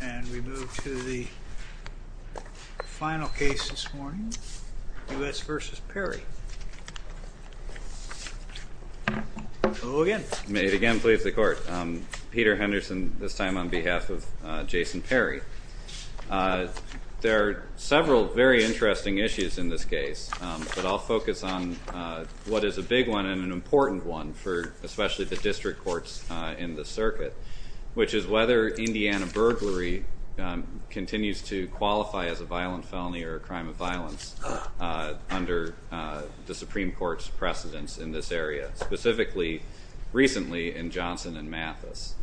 And we move to the final case this morning, U.S. v. Perry. Hello again. May it again please the court. Peter Henderson this time on behalf of Jason Perry. There are several very interesting issues in this case, but I'll focus on what is a big one and an important one for especially the district courts in the circuit, which is whether Indiana burglary continues to qualify as a violent felony or a crime of violence under the Supreme Court's precedence in this area, specifically recently in Johnson and Mathis.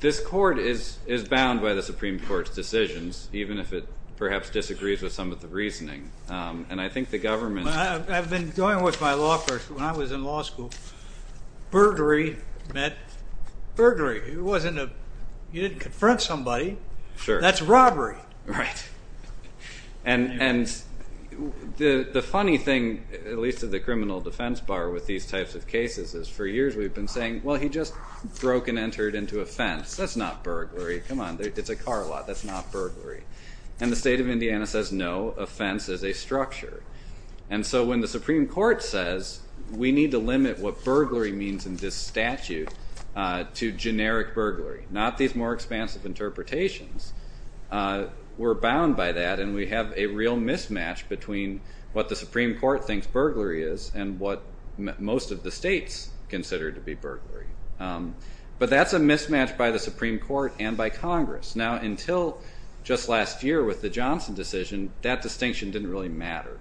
This court is bound by the Supreme Court's decisions, even if it perhaps disagrees with some of the reasoning. And I think the government… When I was in law school, burglary meant burglary. You didn't confront somebody. That's robbery. And the funny thing, at least in the criminal defense bar with these types of cases, is for years we've been saying, well he just broke and entered into a fence. That's not burglary. Come on, it's a car lot. That's not burglary. And the state of Indiana says no, a fence is a structure. And so when the Supreme Court says we need to limit what burglary means in this statute to generic burglary, not these more expansive interpretations, we're bound by that and we have a real mismatch between what the Supreme Court thinks burglary is and what most of the states consider to be burglary. But that's a mismatch by the Supreme Court and by Congress. Now until just last year with the Johnson decision, that distinction didn't really matter.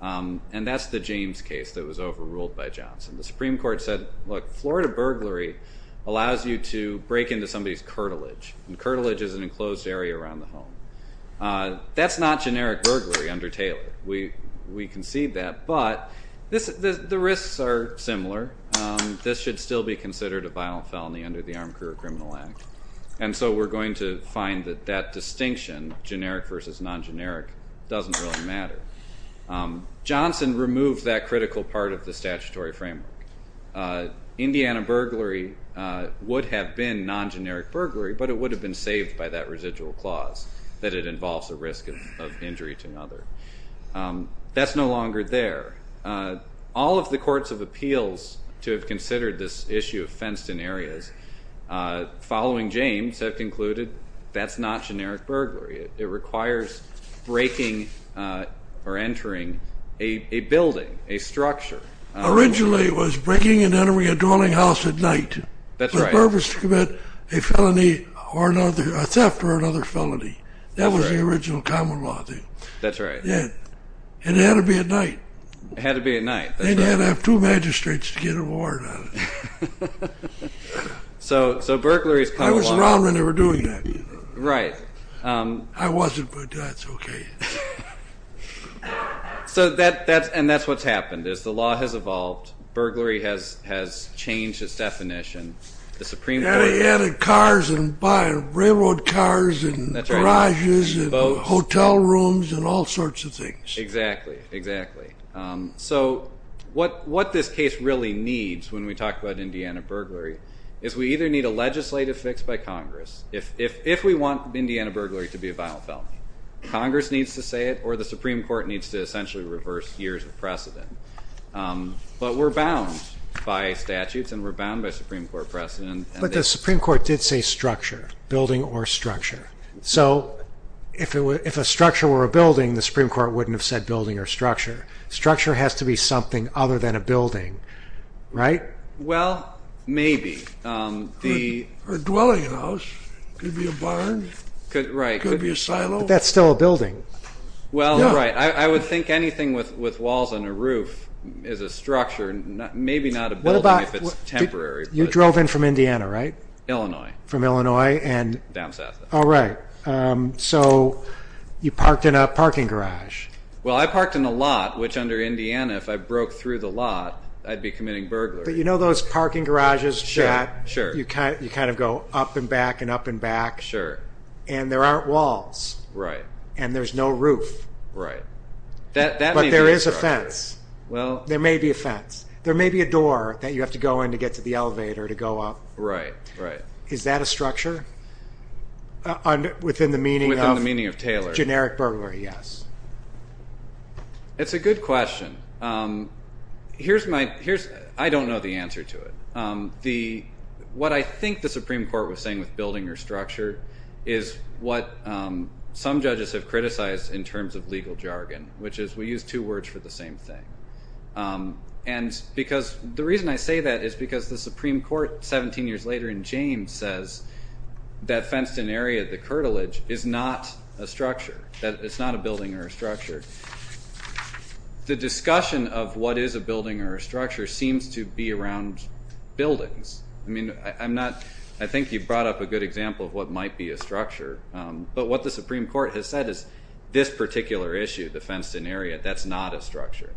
And that's the James case that was overruled by Johnson. The Supreme Court said, look, Florida burglary allows you to break into somebody's cartilage. And cartilage is an enclosed area around the home. That's not generic burglary under Taylor. We concede that. But the risks are similar. This should still be considered a violent felony under the Armed Career Criminal Act. And so we're going to find that that distinction, generic versus non-generic, doesn't really matter. Johnson removed that critical part of the statutory framework. Indiana burglary would have been non-generic burglary, but it would have been saved by that residual clause that it involves a risk of injury to another. That's no longer there. All of the courts of appeals to have considered this issue of fenced-in areas following James have concluded that's not generic burglary. It requires breaking or entering a building, a structure. Originally it was breaking and entering a dwelling house at night with the purpose to commit a felony or another, a theft or another felony. That was the original common law. And it had to be at night. And you had to have two magistrates to get a warrant on it. I was around when they were doing that. I wasn't, but that's okay. And that's what's happened is the law has evolved. Burglary has changed its definition. They added cars and railroad cars and garages and hotel rooms and all sorts of things. Exactly, exactly. So what this case really needs when we talk about Indiana burglary is we either need a legislative fix by Congress, if we want Indiana burglary to be a violent felony, Congress needs to say it or the Supreme Court needs to essentially reverse years of precedent. But we're bound by statutes and we're bound by Supreme Court precedent. But the Supreme Court did say structure, building or structure. So if a structure were a building, the Supreme Court wouldn't have said building or structure. Structure has to be something other than a building, right? Well, maybe. Or a dwelling house. Could be a barn. Could be a silo. But that's still a building. Well, right. I would think anything with walls and a roof is a structure, maybe not a building if it's temporary. You drove in from Indiana, right? Illinois. From Illinois. Down south. All right. So you parked in a parking garage. Well, I parked in a lot, which under Indiana, if I broke through the lot, I'd be committing burglary. But you know those parking garages that you kind of go up and back and up and back? Sure. And there aren't walls. Right. And there's no roof. Right. But there is a fence. There may be a fence. There may be a door that you have to go in to get to the elevator to go up. Right, right. Is that a structure? Within the meaning of generic burglary, yes. It's a good question. I don't know the answer to it. What I think the Supreme Court was saying with building or structure is what some judges have criticized in terms of legal jargon, which is we use two words for the same thing. And because the reason I say that is because the Supreme Court, 17 years later in James, says that fenced-in area, the curtilage, is not a structure, that it's not a building or a structure. The discussion of what is a building or a structure seems to be around buildings. I think you brought up a good example of what might be a structure. But what the Supreme Court has said is this particular issue, the fenced-in area, that's not a structure.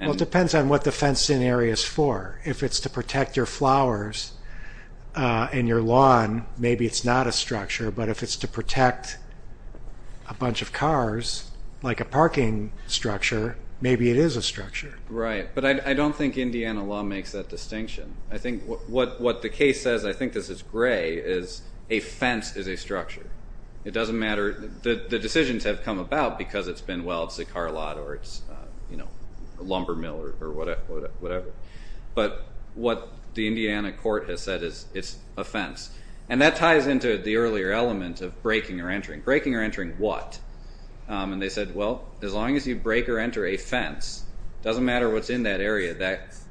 Well, it depends on what the fenced-in area is for. If it's to protect your flowers and your lawn, maybe it's not a structure. But if it's to protect a bunch of cars, like a parking structure, maybe it is a structure. Right. But I don't think Indiana law makes that distinction. I think what the case says, I think this is gray, is a fence is a structure. It doesn't matter. The decisions have come about because it's been, well, it's a car lot or it's a lumber mill or whatever. But what the Indiana court has said is it's a fence. And that ties into the earlier element of breaking or entering. Breaking or entering what? And they said, well, as long as you break or enter a fence, it doesn't matter what's in that area.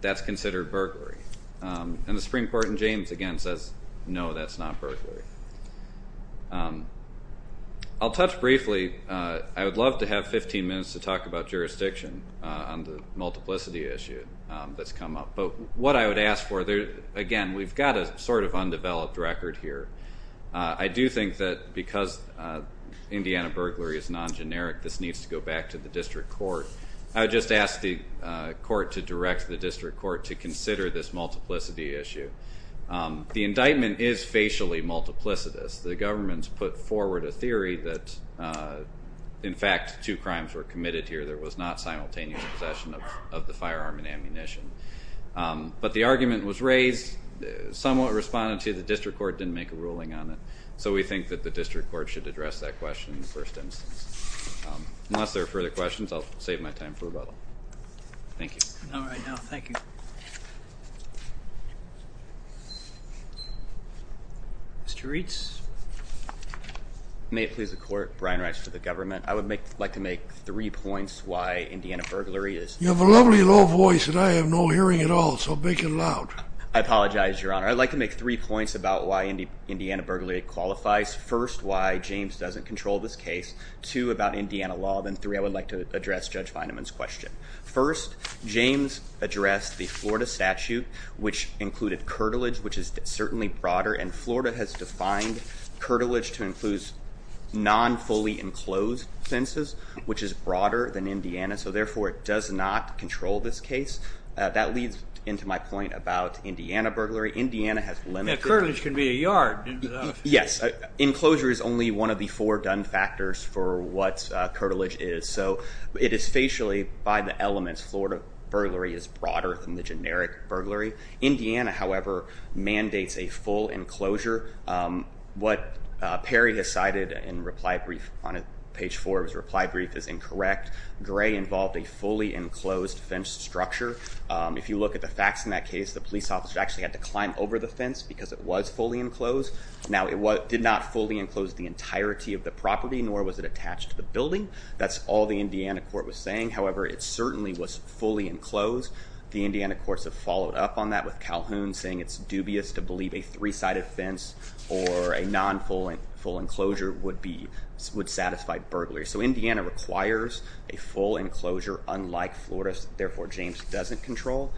That's considered burglary. And the Supreme Court in James, again, says, no, that's not burglary. I'll touch briefly. I would love to have 15 minutes to talk about jurisdiction on the multiplicity issue that's come up. But what I would ask for, again, we've got a sort of undeveloped record here. I do think that because Indiana burglary is non-generic, this needs to go back to the district court. I would just ask the court to direct the district court to consider this multiplicity issue. The indictment is facially multiplicitous. The government's put forward a theory that, in fact, two crimes were committed here. There was not simultaneous possession of the firearm and ammunition. But the argument was raised, somewhat responded to. The district court didn't make a ruling on it. So we think that the district court should address that question in the first instance. Unless there are further questions, I'll save my time for rebuttal. Thank you. All right, no, thank you. Mr. Reitz. May it please the court, Brian Reitz for the government. I would like to make three points why Indiana burglary is. You have a lovely low voice, and I have no hearing at all. So make it loud. I apologize, Your Honor. I'd like to make three points about why Indiana burglary qualifies. First, why James doesn't control this case. Two, about Indiana law. Then three, I would like to address Judge Fineman's question. First, James addressed the Florida statute, which included curtilage, which is certainly broader. And Florida has defined curtilage to include non-fully enclosed fences, which is broader than Indiana. So, therefore, it does not control this case. That leads into my point about Indiana burglary. Indiana has limited. Curtilage can be a yard. Yes. Enclosure is only one of the four done factors for what curtilage is. So it is facially, by the elements, Florida burglary is broader than the generic burglary. Indiana, however, mandates a full enclosure. What Perry has cited in reply brief on page four of his reply brief is incorrect. Gray involved a fully enclosed fence structure. If you look at the facts in that case, the police officer actually had to climb over the fence because it was fully enclosed. Now, it did not fully enclose the entirety of the property, nor was it attached to the building. That's all the Indiana court was saying. However, it certainly was fully enclosed. The Indiana courts have followed up on that with Calhoun saying it's dubious to believe a three-sided fence or a non-full enclosure would satisfy burglary. So Indiana requires a full enclosure, unlike Florida's. Therefore, James doesn't control.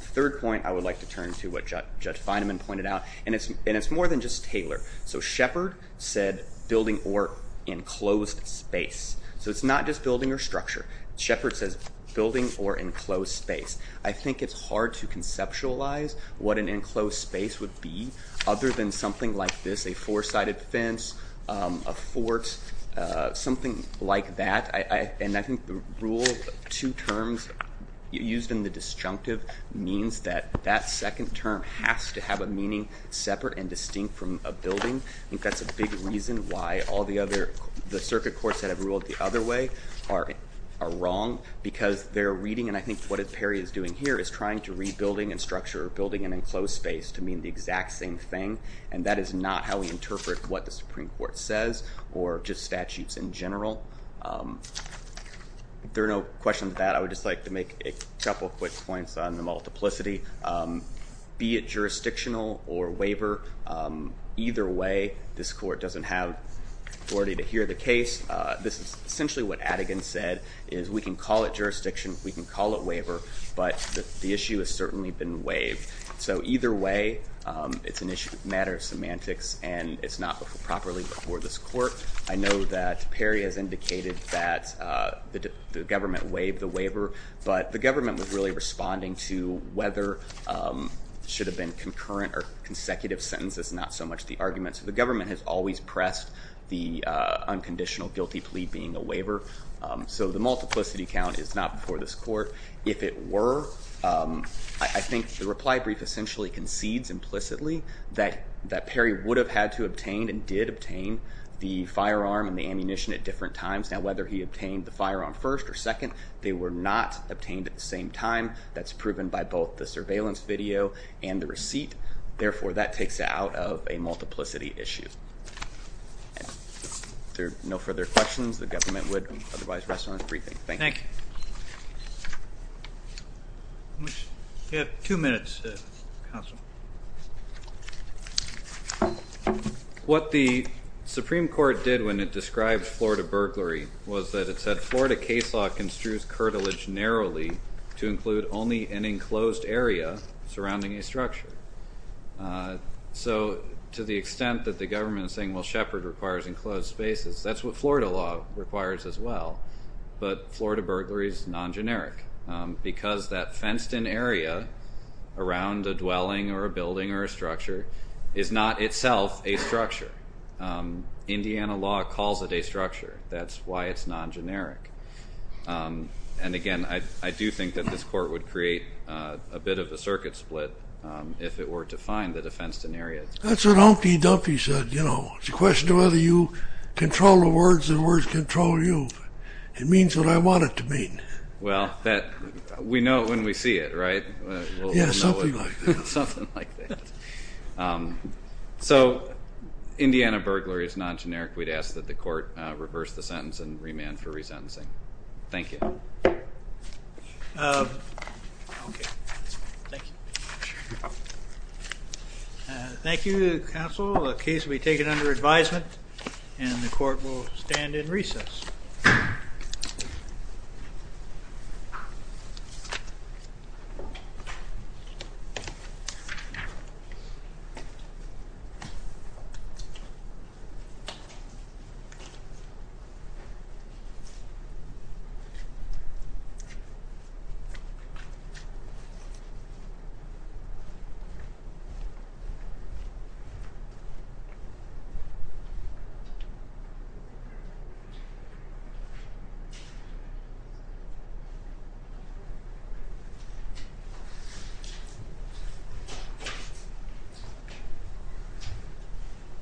Third point, I would like to turn to what Judge Feynman pointed out, and it's more than just Taylor. So Shepard said building or enclosed space. So it's not just building or structure. Shepard says building or enclosed space. I think it's hard to conceptualize what an enclosed space would be other than something like this, a four-sided fence, a fort, something like that. And I think the rule of two terms used in the disjunctive means that that second term has to have a meaning separate and distinct from a building. I think that's a big reason why all the other, the circuit courts that have ruled the other way are wrong because they're reading, and I think what Perry is doing here is trying to read building and structure or building an enclosed space to mean the exact same thing, and that is not how we interpret what the Supreme Court says or just statutes in general. If there are no questions to that, I would just like to make a couple quick points on the multiplicity. Be it jurisdictional or waiver, either way, this court doesn't have authority to hear the case. This is essentially what Adigan said is we can call it jurisdiction, we can call it waiver, but the issue has certainly been waived. So either way, it's a matter of semantics, and it's not before properly before this court. I know that Perry has indicated that the government waived the waiver, but the government was really responding to whether it should have been concurrent or consecutive sentences, not so much the argument. So the government has always pressed the unconditional guilty plea being a waiver. So the multiplicity count is not before this court. If it were, I think the reply brief essentially concedes implicitly that Perry would have had to obtain and did obtain the firearm and the ammunition at different times. Now, whether he obtained the firearm first or second, they were not obtained at the same time. That's proven by both the surveillance video and the receipt. Therefore, that takes out of a multiplicity issue. If there are no further questions, the government would otherwise rest on its briefing. Thank you. You have two minutes, Counsel. What the Supreme Court did when it described Florida burglary was that it said, Florida case law construes curtilage narrowly to include only an enclosed area surrounding a structure. So to the extent that the government is saying, well, Shepard requires enclosed spaces, that's what Florida law requires as well. But Florida burglary is non-generic because that fenced-in area around a dwelling or a building or a structure is not itself a structure. Indiana law calls it a structure. That's why it's non-generic. And again, I do think that this court would create a bit of a circuit split if it were to find that a fenced-in area. That's what Humpty Dumpty said, you know. It's a question of whether you control the words and the words control you. It means what I want it to mean. Well, we know it when we see it, right? Yeah, something like that. Something like that. So Indiana burglary is non-generic. We'd ask that the court reverse the sentence and remand for resentencing. Thank you. Okay. Thank you. Thank you, counsel. The case will be taken under advisement and the court will stand in recess. Thank you.